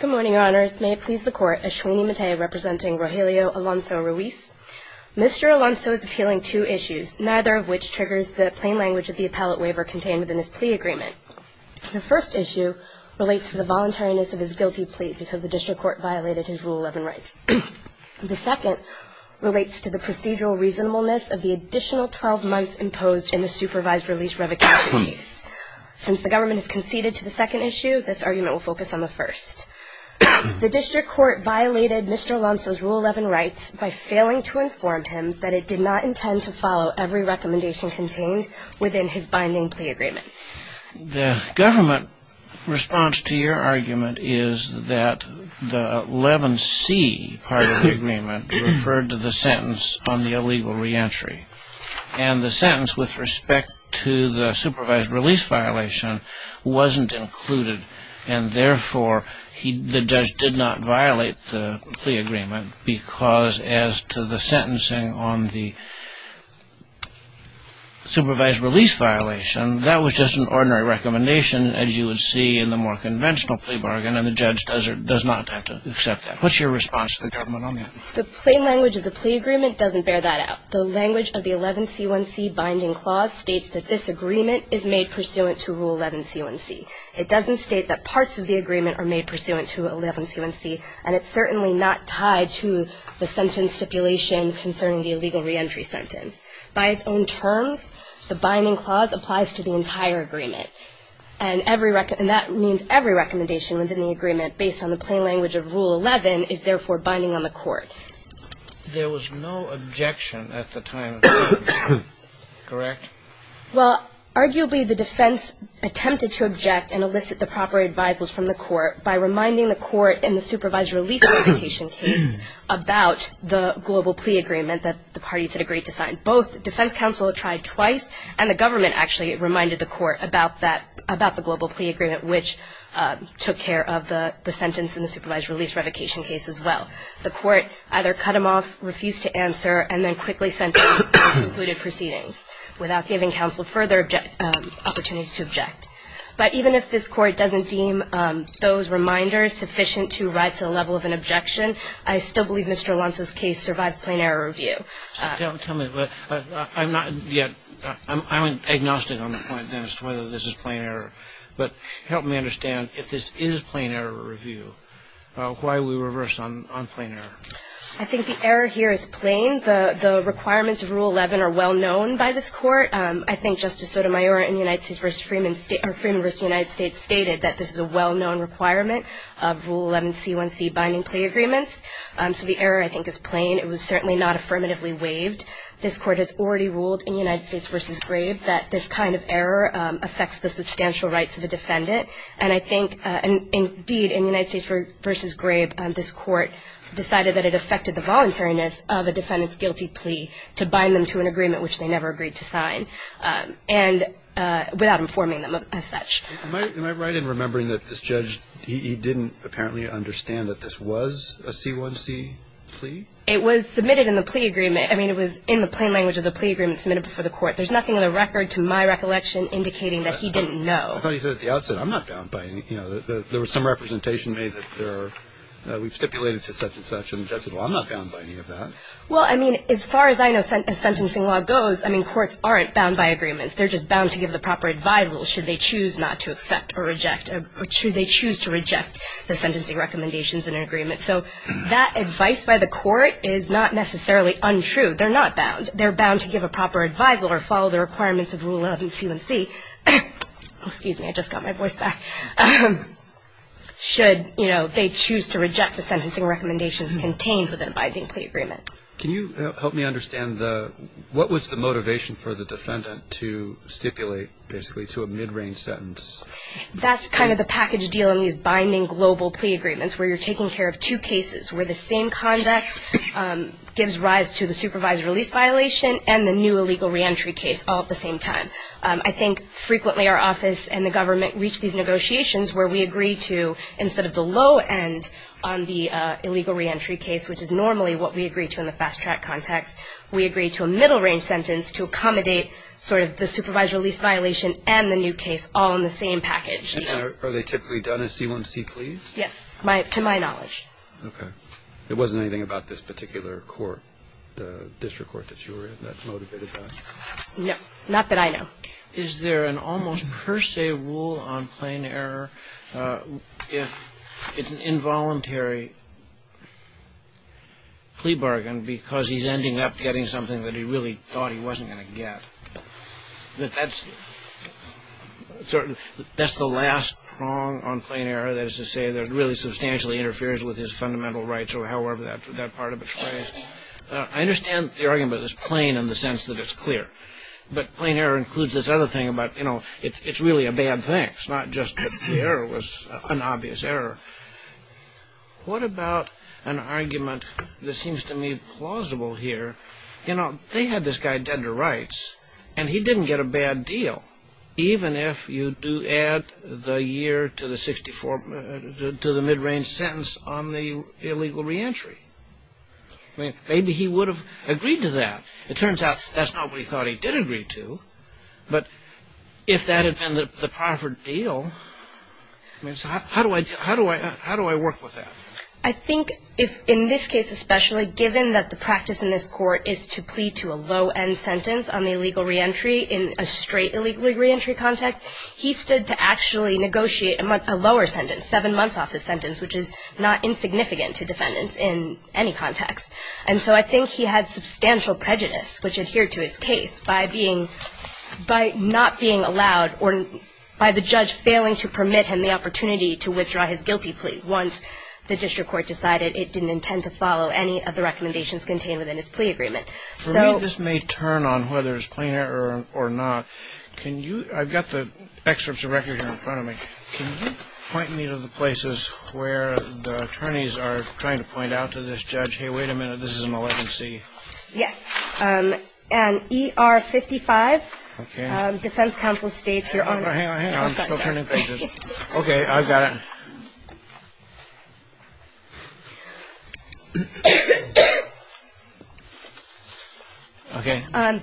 Good morning, your honors. May it please the court, Ashwini Mate representing Rogelio Alonso Ruiz. Mr. Alonso is appealing two issues, neither of which triggers the plain language of the appellate waiver contained within this plea agreement. The first issue relates to the voluntariness of his guilty plea because the district court violated his Rule 11 rights. The second relates to the procedural reasonableness of the additional 12 months imposed in the supervised release revocation case. Since the government has conceded to the second issue, this argument will focus on the first. The district court violated Mr. Alonso's Rule 11 rights by failing to inform him that it did not intend to follow every recommendation contained within his binding plea agreement. The government response to your argument is that the 11C part of the agreement referred to the sentence on the illegal reentry. And the sentence with respect to the supervised release violation wasn't included. And therefore, the judge did not violate the plea agreement because as to the sentencing on the supervised release violation, that was just an ordinary recommendation as you would see in the more conventional plea bargain, and the judge does not have to accept that. What's your response to the government on that? The plain language of the plea agreement doesn't bear that out. The language of the 11C1C binding clause states that this agreement is made pursuant to Rule 11C1C. It doesn't state that parts of the agreement are made pursuant to 11C1C, and it's certainly not tied to the sentence stipulation concerning the illegal reentry sentence. By its own terms, the binding clause applies to the entire agreement, And that means every recommendation within the agreement based on the plain language of Rule 11 is therefore binding on the court. There was no objection at the time, correct? Well, arguably, the defense attempted to object and elicit the proper advisers from the court by reminding the court in the supervised release application case about the global plea agreement that the parties had agreed to sign. Both defense counsel tried twice, and the government actually reminded the court about that, about the global plea agreement, which took care of the sentence in the supervised release revocation case as well. The court either cut him off, refused to answer, and then quickly sentenced and concluded proceedings without giving counsel further opportunities to object. But even if this court doesn't deem those reminders sufficient to rise to the level of an objection, I still believe Mr. Alonzo's case survives plain error review. Tell me, I'm not yet, I'm agnostic on the point, Dennis, whether this is plain error. But help me understand, if this is plain error review, why are we reversed on plain error? I think the error here is plain. The requirements of Rule 11 are well known by this court. I think Justice Sotomayor in Freeman v. United States stated that this is a well-known requirement of Rule 11 C1C binding plea agreements. So the error, I think, is plain. It was certainly not affirmatively waived. This court has already ruled in United States v. Grabe that this kind of error affects the substantial rights of a defendant. And I think, indeed, in United States v. Grabe, this court decided that it affected the voluntariness of a defendant's guilty plea to bind them to an agreement, which they never agreed to sign, and without informing them as such. Am I right in remembering that this judge, he didn't apparently understand that this was a C1C plea? It was submitted in the plea agreement. I mean, it was in the plain language of the plea agreement submitted before the court. There's nothing on the record to my recollection indicating that he didn't know. I thought you said at the outset, I'm not bound by any of that. There was some representation made that there are we've stipulated to such and such, and the judge said, well, I'm not bound by any of that. Well, I mean, as far as I know, as sentencing law goes, I mean, courts aren't bound by agreements. They're just bound to give the proper advisals should they choose not to accept or reject or should they choose to reject the sentencing recommendations in an agreement. So that advice by the court is not necessarily untrue. They're not bound. They're bound to give a proper advisal or follow the requirements of Rule 11 C1C. Excuse me. I just got my voice back. Should, you know, they choose to reject the sentencing recommendations contained within a binding plea agreement. Can you help me understand what was the motivation for the defendant to stipulate basically to a mid-range sentence? That's kind of the package deal in these binding global plea agreements, where you're taking care of two cases where the same conduct gives rise to the supervised release violation and the new illegal reentry case all at the same time. I think frequently our office and the government reach these negotiations where we agree to, instead of the low end on the illegal reentry case, which is normally what we agree to in the fast track context, we agree to a middle-range sentence to accommodate sort of the supervised release violation and the new case all in the same package deal. And are they typically done as C1C pleas? Yes, to my knowledge. Okay. There wasn't anything about this particular court, the district court that you were in, that motivated that? No. Not that I know. Is there an almost per se rule on plain error if it's an involuntary plea bargain because he's ending up getting something that he really thought he wasn't going to get? That's the last prong on plain error. That is to say that it really substantially interferes with his fundamental rights or however that part of it's phrased. I understand the argument is plain in the sense that it's clear, but plain error includes this other thing about it's really a bad thing. It's not just that the error was an obvious error. What about an argument that seems to me plausible here? You know, they had this guy dead to rights and he didn't get a bad deal even if you do add the year to the mid-range sentence on the illegal reentry. Maybe he would have agreed to that. It turns out that's not what he thought he did agree to, but if that had been the proper deal, how do I work with that? I think if in this case especially, given that the practice in this court is to plea to a low end sentence on the illegal reentry in a straight illegal reentry context, he stood to actually negotiate a lower sentence, seven months off his sentence, which is not insignificant to defendants in any context. And so I think he had substantial prejudice, which adhered to his case by not being allowed or by the judge failing to permit him the opportunity to withdraw his guilty plea once the district court decided it didn't intend to follow any of the recommendations contained within his plea agreement. For me, this may turn on whether it's plain error or not. I've got the excerpts of record here in front of me. Can you point me to the places where the attorneys are trying to point out to this judge, hey, wait a minute, this is a malignancy? Yes. And ER 55, defense counsel states your honor. Hang on, hang on, I'm still turning pages. Okay, I've got it.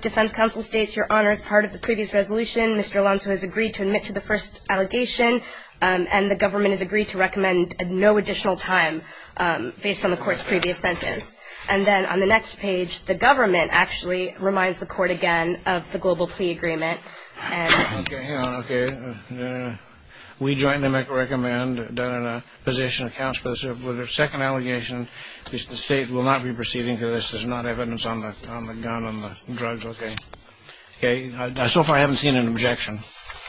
Defense counsel states your honor, as part of the previous resolution, Mr. Alonzo has agreed to admit to the first allegation and the government has agreed to recommend no additional time based on the court's previous sentence. And then on the next page, the government actually reminds the court again of the global plea agreement. Okay, hang on, okay. We jointly recommend that a position accounts for the second allegation. The state will not be proceeding to this. There's not evidence on the gun, on the drugs. Okay, so far I haven't seen an objection.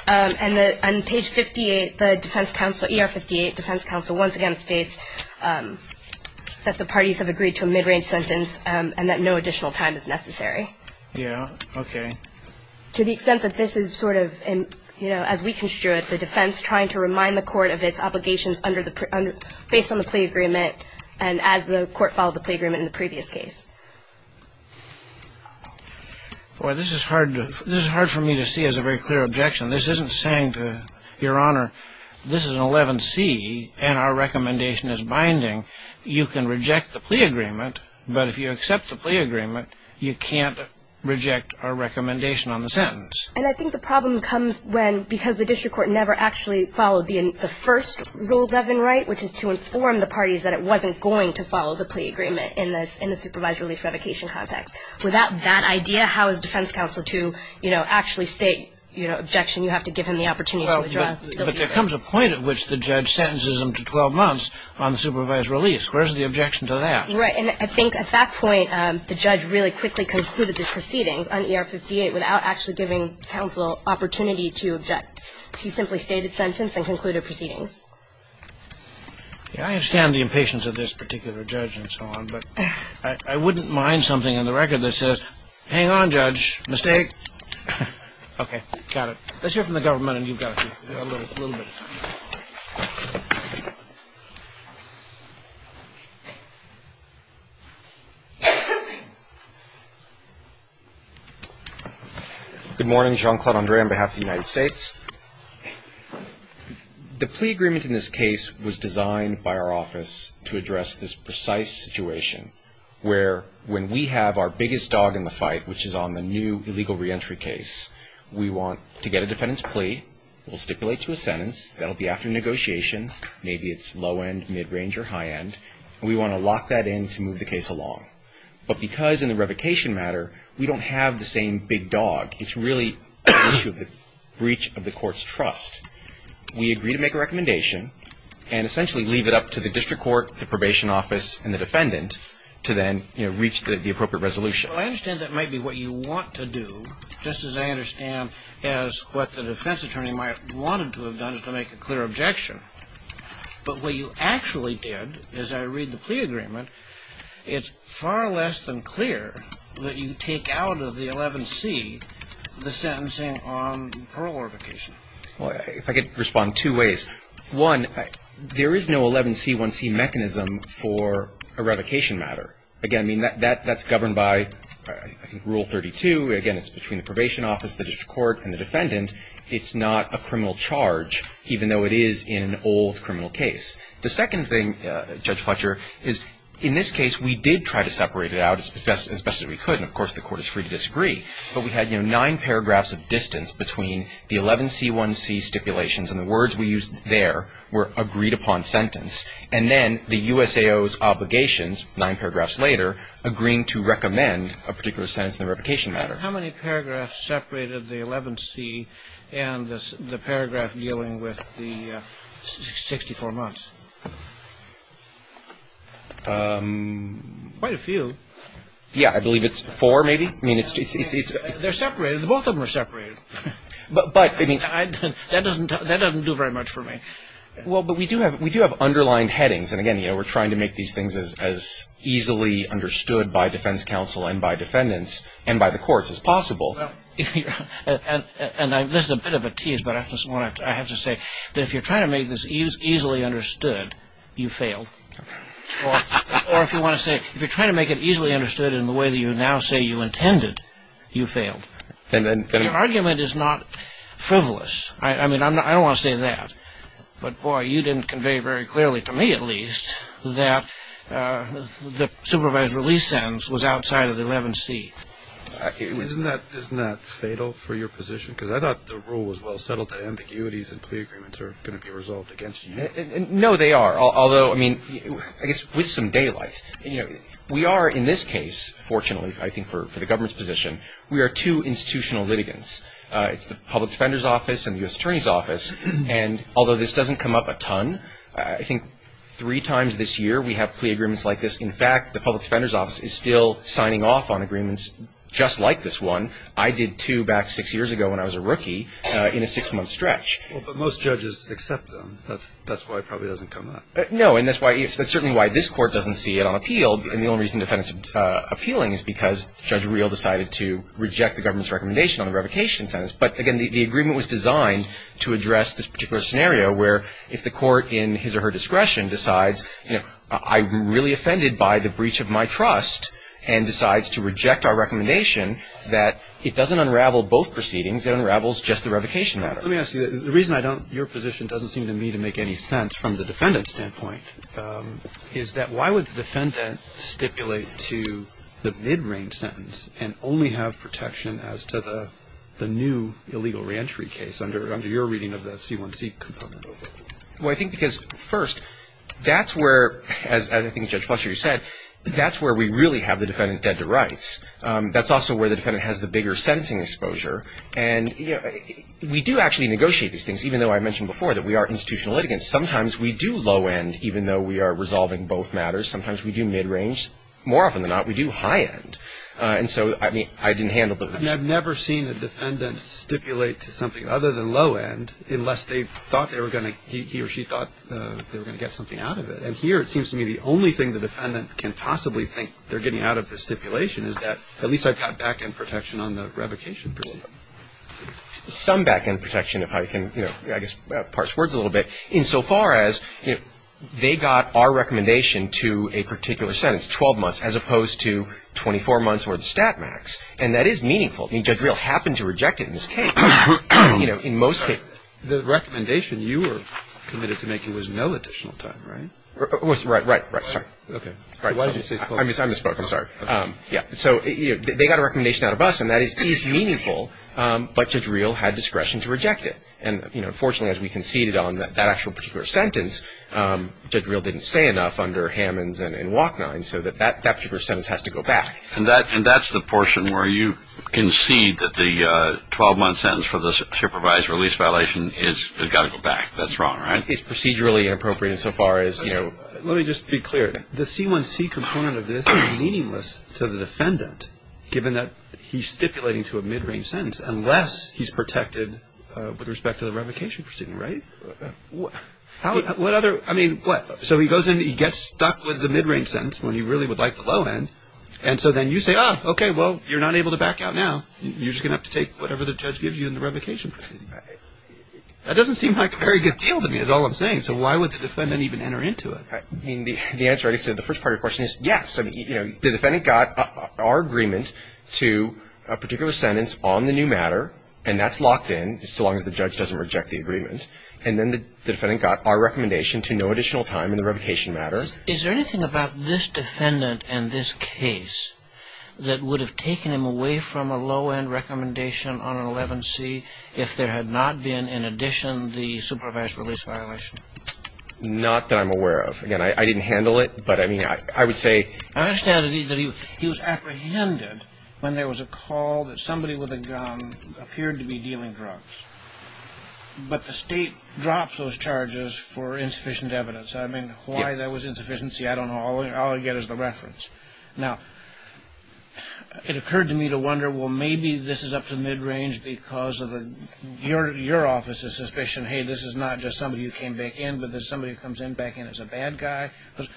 And on page 58, the defense counsel, ER 58, defense counsel once again states that the parties have agreed to a mid-range sentence and that no additional time is necessary. Yeah, okay. To the extent that this is sort of, you know, as we construe it, the defense trying to remind the court of its obligations based on the plea agreement and as the court followed the plea agreement in the previous case. Boy, this is hard for me to see as a very clear objection. This isn't saying to Your Honor, this is an 11C and our recommendation is binding. You can reject the plea agreement, but if you accept the plea agreement, you can't reject our recommendation on the sentence. And I think the problem comes when because the district court never actually followed the first rule of 11 right, which is to inform the parties that it wasn't going to follow the plea agreement in the supervised release revocation context. Without that idea, how is defense counsel to, you know, actually state, you know, objection you have to give him the opportunity to address? Well, but there comes a point at which the judge sentences him to 12 months on the supervised release. Where's the objection to that? Right. And I think at that point, the judge really quickly concluded the proceedings on ER 58 without actually giving counsel opportunity to object. He simply stated sentence and concluded proceedings. I understand the impatience of this particular judge and so on, but I wouldn't mind something on the record that says, hang on, judge, mistake. Okay. Got it. Let's hear from the government and you've got a little bit. Good morning. Jean-Claude Andre on behalf of the United States. The plea agreement in this case was designed by our office to address this precise situation where when we have our biggest dog in the fight, which is on the new illegal reentry case, we want to get a defendant's plea. We'll stipulate to a sentence. That will be after negotiation. Maybe it's low end, mid range, or high end. And we want to lock that in to move the case along. But because in the revocation matter, we don't have the same big dog, it's really a breach of the court's trust. We agree to make a recommendation and essentially leave it up to the district court, the probation office, and the defendant to then, you know, reach the appropriate resolution. Well, I understand that might be what you want to do, just as I understand as what the defense attorney might have wanted to have done, is to make a clear objection. But what you actually did, as I read the plea agreement, it's far less than clear that you take out of the 11C the sentencing on parole revocation. Well, if I could respond two ways. One, there is no 11C-1C mechanism for a revocation matter. Again, I mean, that's governed by, I think, Rule 32. Again, it's between the probation office, the district court, and the defendant. It's not a criminal charge, even though it is in an old criminal case. The second thing, Judge Fletcher, is in this case we did try to separate it out as best as we could. And, of course, the court is free to disagree. But we had, you know, nine paragraphs of distance between the 11C-1C stipulations and the words we used there were agreed upon sentence. And then the USAO's obligations, nine paragraphs later, agreeing to recommend a particular sentence in the revocation matter. How many paragraphs separated the 11C and the paragraph dealing with the 64 months? Quite a few. Yeah. I believe it's four, maybe. I mean, it's just... They're separated. Both of them are separated. But, I mean... That doesn't do very much for me. Well, but we do have underlined headings. And, again, you know, we're trying to make these things as easily understood by defense counsel and by defendants and by the courts as possible. And this is a bit of a tease, but I have to say that if you're trying to make this easily understood, you failed. Or if you want to say, if you're trying to make it easily understood in the way that you now say you intended, you failed. Your argument is not frivolous. I mean, I don't want to say that. But, boy, you didn't convey very clearly, to me at least, that the supervised release sentence was outside of the 11C. Isn't that fatal for your position? Because I thought the rule was well settled. The ambiguities and plea agreements are going to be resolved against you. No, they are. Although, I mean, I guess with some daylight. We are, in this case, fortunately, I think for the government's position, we are two institutional litigants. It's the Public Defender's Office and the U.S. Attorney's Office. And although this doesn't come up a ton, I think three times this year we have plea agreements like this. In fact, the Public Defender's Office is still signing off on agreements just like this one. I did two back six years ago when I was a rookie in a six-month stretch. Well, but most judges accept them. That's why it probably doesn't come up. No, and that's certainly why this court doesn't see it on appeal. And the only reason defendants are appealing is because Judge Reel decided to reject the government's recommendation on the revocation sentence. But, again, the agreement was designed to address this particular scenario where if the court, in his or her discretion, decides, you know, I'm really offended by the breach of my trust and decides to reject our recommendation, that it doesn't unravel both proceedings. It unravels just the revocation matter. Let me ask you, the reason I don't, your position doesn't seem to me to make any sense from the defendant's standpoint is that why would the defendant stipulate to the mid-range sentence and only have protection as to the new illegal reentry case under your reading of the C1C component? Well, I think because, first, that's where, as I think Judge Fletcher said, that's where we really have the defendant dead to rights. That's also where the defendant has the bigger sentencing exposure. And, you know, we do actually negotiate these things, even though I mentioned before that we are institutional litigants. Sometimes we do low-end, even though we are resolving both matters. Sometimes we do mid-range. More often than not, we do high-end. And so, I mean, I didn't handle those. I've never seen a defendant stipulate to something other than low-end unless they thought they were going to, he or she thought they were going to get something out of it. And here it seems to me the only thing the defendant can possibly think they're getting out of the stipulation is that at least I've got back-end protection on the revocation precedent. Some back-end protection, if I can, you know, I guess, parse words a little bit, insofar as they got our recommendation to a particular sentence, 12 months, as opposed to 24 months or the stat max. And that is meaningful. I mean, Judge Real happened to reject it in this case. You know, in most cases. The recommendation you were committed to making was no additional time, right? Right, right, right. Sorry. Okay. I misspoke. I'm sorry. Yeah. So, you know, they got a recommendation out of us, and that is meaningful. But Judge Real had discretion to reject it. And, you know, fortunately, as we conceded on that actual particular sentence, Judge Real didn't say enough under Hammons and Wachnine so that that particular sentence has to go back. And that's the portion where you concede that the 12-month sentence for the supervised release violation has got to go back. That's wrong, right? It's procedurally inappropriate insofar as, you know. Let me just be clear. The C1C component of this is meaningless to the defendant given that he's stipulating to a mid-range sentence unless he's protected with respect to the revocation proceeding, right? What other? I mean, what? So he goes in, he gets stuck with the mid-range sentence when he really would like the low end. And so then you say, oh, okay, well, you're not able to back out now. You're just going to have to take whatever the judge gives you in the revocation proceeding. That doesn't seem like a very good deal to me is all I'm saying. So why would the defendant even enter into it? I mean, the answer to the first part of your question is yes. The defendant got our agreement to a particular sentence on the new matter, and that's locked in so long as the judge doesn't reject the agreement. And then the defendant got our recommendation to no additional time in the revocation matters. Is there anything about this defendant and this case that would have taken him away from a low end recommendation on an 11C if there had not been, in addition, the supervised release violation? Not that I'm aware of. Again, I didn't handle it, but, I mean, I would say. I understand that he was apprehended when there was a call that somebody with a gun appeared to be dealing drugs. But the state dropped those charges for insufficient evidence. I mean, why there was insufficiency, I don't know. All I get is the reference. Now, it occurred to me to wonder, well, maybe this is up to mid-range because of your office's suspicion. Hey, this is not just somebody who came back in, but there's somebody who comes in back in as a bad guy.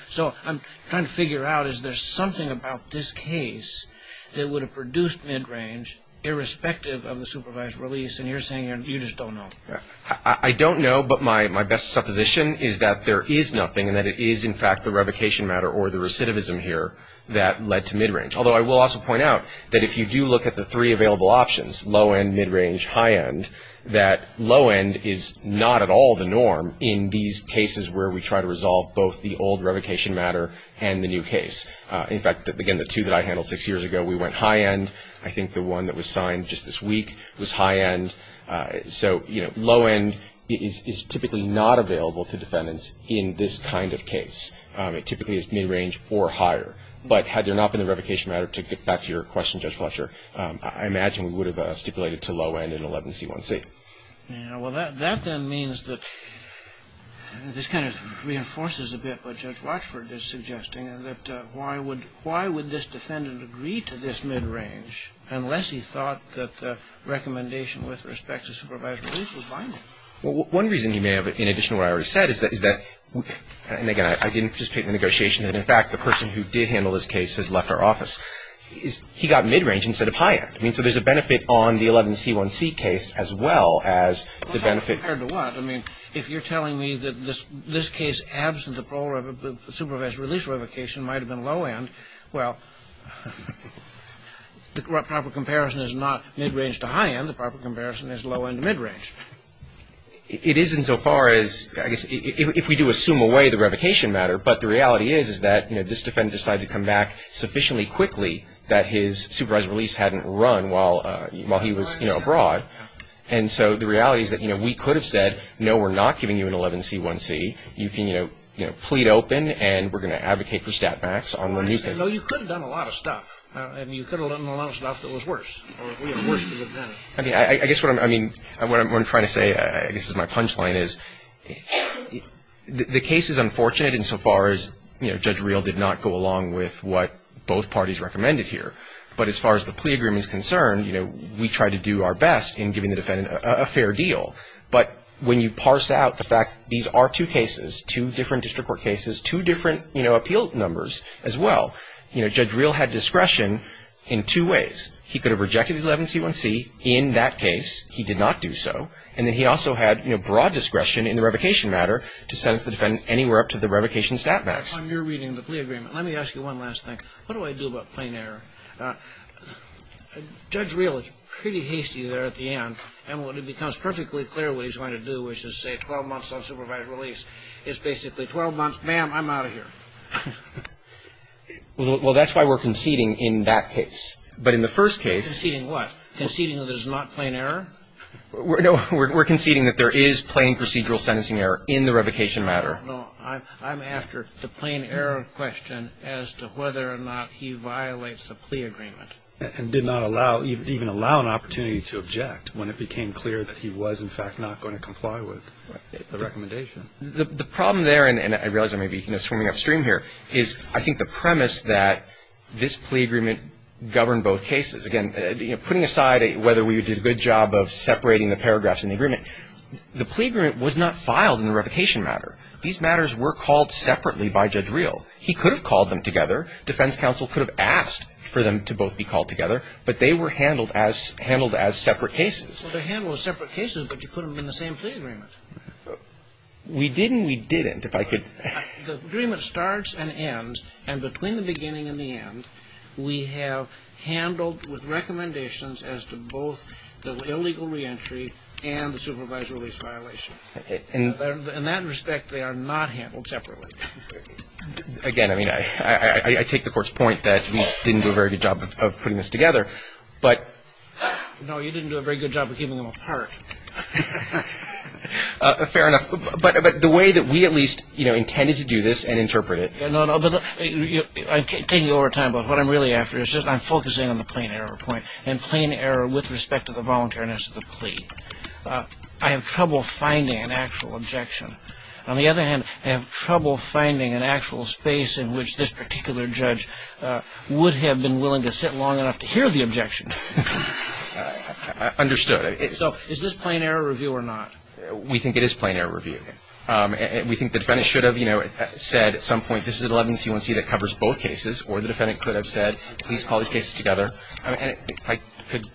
So I'm trying to figure out, is there something about this case that would have produced mid-range, irrespective of the supervised release, and you're saying you just don't know. I don't know, but my best supposition is that there is nothing, and that it is, in fact, the revocation matter or the recidivism here that led to mid-range. Although I will also point out that if you do look at the three available options, low end, mid range, high end, that low end is not at all the norm in these cases where we try to resolve both the old revocation matter and the new case. In fact, again, the two that I handled six years ago, we went high end. I think the one that was signed just this week was high end. So, you know, low end is typically not available to defendants in this kind of case. It typically is mid range or higher. But had there not been a revocation matter, to get back to your question, Judge Fletcher, I imagine we would have stipulated to low end in 11C1C. Yeah. Well, that then means that this kind of reinforces a bit what Judge Watchford is suggesting, that why would this defendant agree to this mid range unless he thought that the recommendation with respect to supervised release was binding? Well, one reason you may have, in addition to what I already said, is that, and again, I didn't participate in the negotiation, that in fact the person who did handle this case has left our office. He got mid range instead of high end. I mean, so there's a benefit on the 11C1C case as well as the benefit. Compared to what? I mean, if you're telling me that this case, absent the provisional release revocation, might have been low end, well, the proper comparison is not mid range to high end. The proper comparison is low end to mid range. It isn't so far as, I guess, if we do assume away the revocation matter, but the reality is that this defendant decided to come back sufficiently quickly that his supervised release hadn't run while he was abroad. And so the reality is that we could have said, no, we're not giving you an 11C1C. You can plead open and we're going to advocate for stat max on the new case. No, you could have done a lot of stuff. I mean, you could have done a lot of stuff that was worse. I mean, I guess what I'm trying to say, I guess this is my punch line, is the case is unfortunate in so far as, you know, Judge Reel did not go along with what both parties recommended here. But as far as the plea agreement is concerned, you know, we tried to do our best in giving the defendant a fair deal. But when you parse out the fact these are two cases, two different district court cases, two different, you know, appeal numbers as well, you know, Judge Reel had discretion in two ways. He could have rejected the 11C1C in that case. He did not do so. And then he also had, you know, broad discretion in the revocation matter to sentence the defendant anywhere up to the revocation stat max. If I'm near reading the plea agreement, let me ask you one last thing. What do I do about plain error? Judge Reel is pretty hasty there at the end. And when it becomes perfectly clear what he's going to do, which is say 12 months on supervised release, it's basically 12 months, ma'am, I'm out of here. Well, that's why we're conceding in that case. But in the first case. Conceding what? Conceding that it is not plain error? No. We're conceding that there is plain procedural sentencing error in the revocation matter. No. I'm after the plain error question as to whether or not he violates the plea agreement. And did not allow, even allow an opportunity to object when it became clear that he was, in fact, not going to comply with the recommendation. The problem there, and I realize I may be, you know, swimming upstream here, is I think the premise that this plea agreement governed both cases. Again, putting aside whether we did a good job of separating the paragraphs in the agreement, the plea agreement was not filed in the revocation matter. These matters were called separately by Judge Reel. He could have called them together. Defense counsel could have asked for them to both be called together. But they were handled as separate cases. Well, they're handled as separate cases, but you put them in the same plea agreement. We didn't. We didn't. If I could. The agreement starts and ends. And between the beginning and the end, we have handled with recommendations as to both the illegal reentry and the supervised release violation. In that respect, they are not handled separately. Again, I mean, I take the Court's point that you didn't do a very good job of putting this together, but. No, you didn't do a very good job of keeping them apart. Fair enough. But the way that we at least, you know, intended to do this and interpret it. No, no. I'm taking you over time, but what I'm really after is just I'm focusing on the plain error point. And plain error with respect to the voluntariness of the plea. I have trouble finding an actual objection. On the other hand, I have trouble finding an actual space in which this particular judge would have been willing to sit long enough to hear the objection. Understood. So is this plain error review or not? We think it is plain error review. We think the defendant should have, you know, said at some point, this is an 11C1C that covers both cases. Or the defendant could have said, please call these cases together. If I could,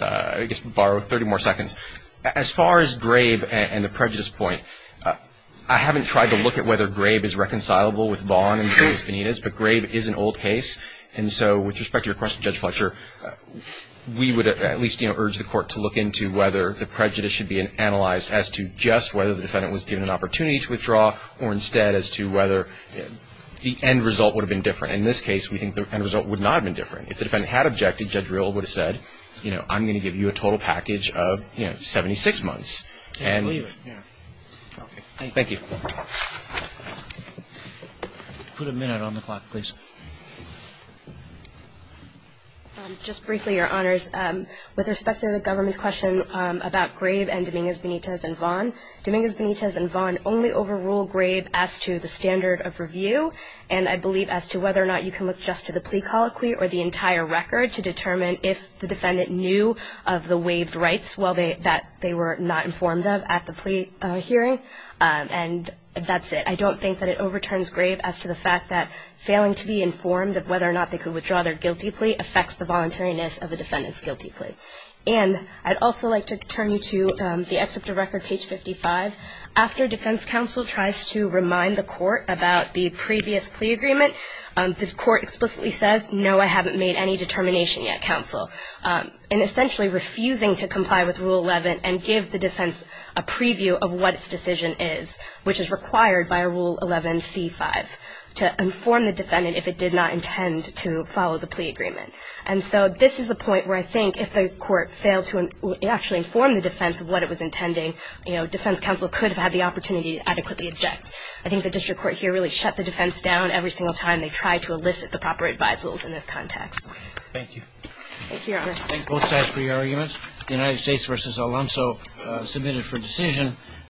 I guess, borrow 30 more seconds. As far as Grabe and the prejudice point, I haven't tried to look at whether Grabe is reconcilable with Vaughn and Penitas, but Grabe is an old case. And so with respect to your question, Judge Fletcher, as to just whether the defendant was given an opportunity to withdraw or instead as to whether the end result would have been different. In this case, we think the end result would not have been different. If the defendant had objected, Judge Riehl would have said, you know, I'm going to give you a total package of, you know, 76 months. I believe it, yeah. Thank you. Put a minute on the clock, please. Just briefly, Your Honors, with respect to the government's question about Grabe and Dominguez-Penitas and Vaughn, Dominguez-Penitas and Vaughn only overrule Grabe as to the standard of review. And I believe as to whether or not you can look just to the plea colloquy or the entire record to determine if the defendant knew of the waived rights that they were not informed of at the plea hearing. And that's it. I don't think that it overturns Grabe as to the fact that failing to be informed of whether or not they could withdraw their guilty plea affects the voluntariness of a defendant's guilty plea. And I'd also like to turn you to the excerpt of record, page 55. After defense counsel tries to remind the court about the previous plea agreement, the court explicitly says, no, I haven't made any determination yet, counsel. And essentially refusing to comply with Rule 11 and give the defense a preview of what its decision is, which is required by Rule 11C5 to inform the defendant if it did not intend to follow the plea agreement. And so this is the point where I think if the court failed to actually inform the defense of what it was intending, defense counsel could have had the opportunity to adequately object. I think the district court here really shut the defense down every single time they tried to elicit the proper advisals in this context. Thank you. Thank you, Your Honor. Thank both sides for your arguments. The United States v. Alonzo submitted for decision.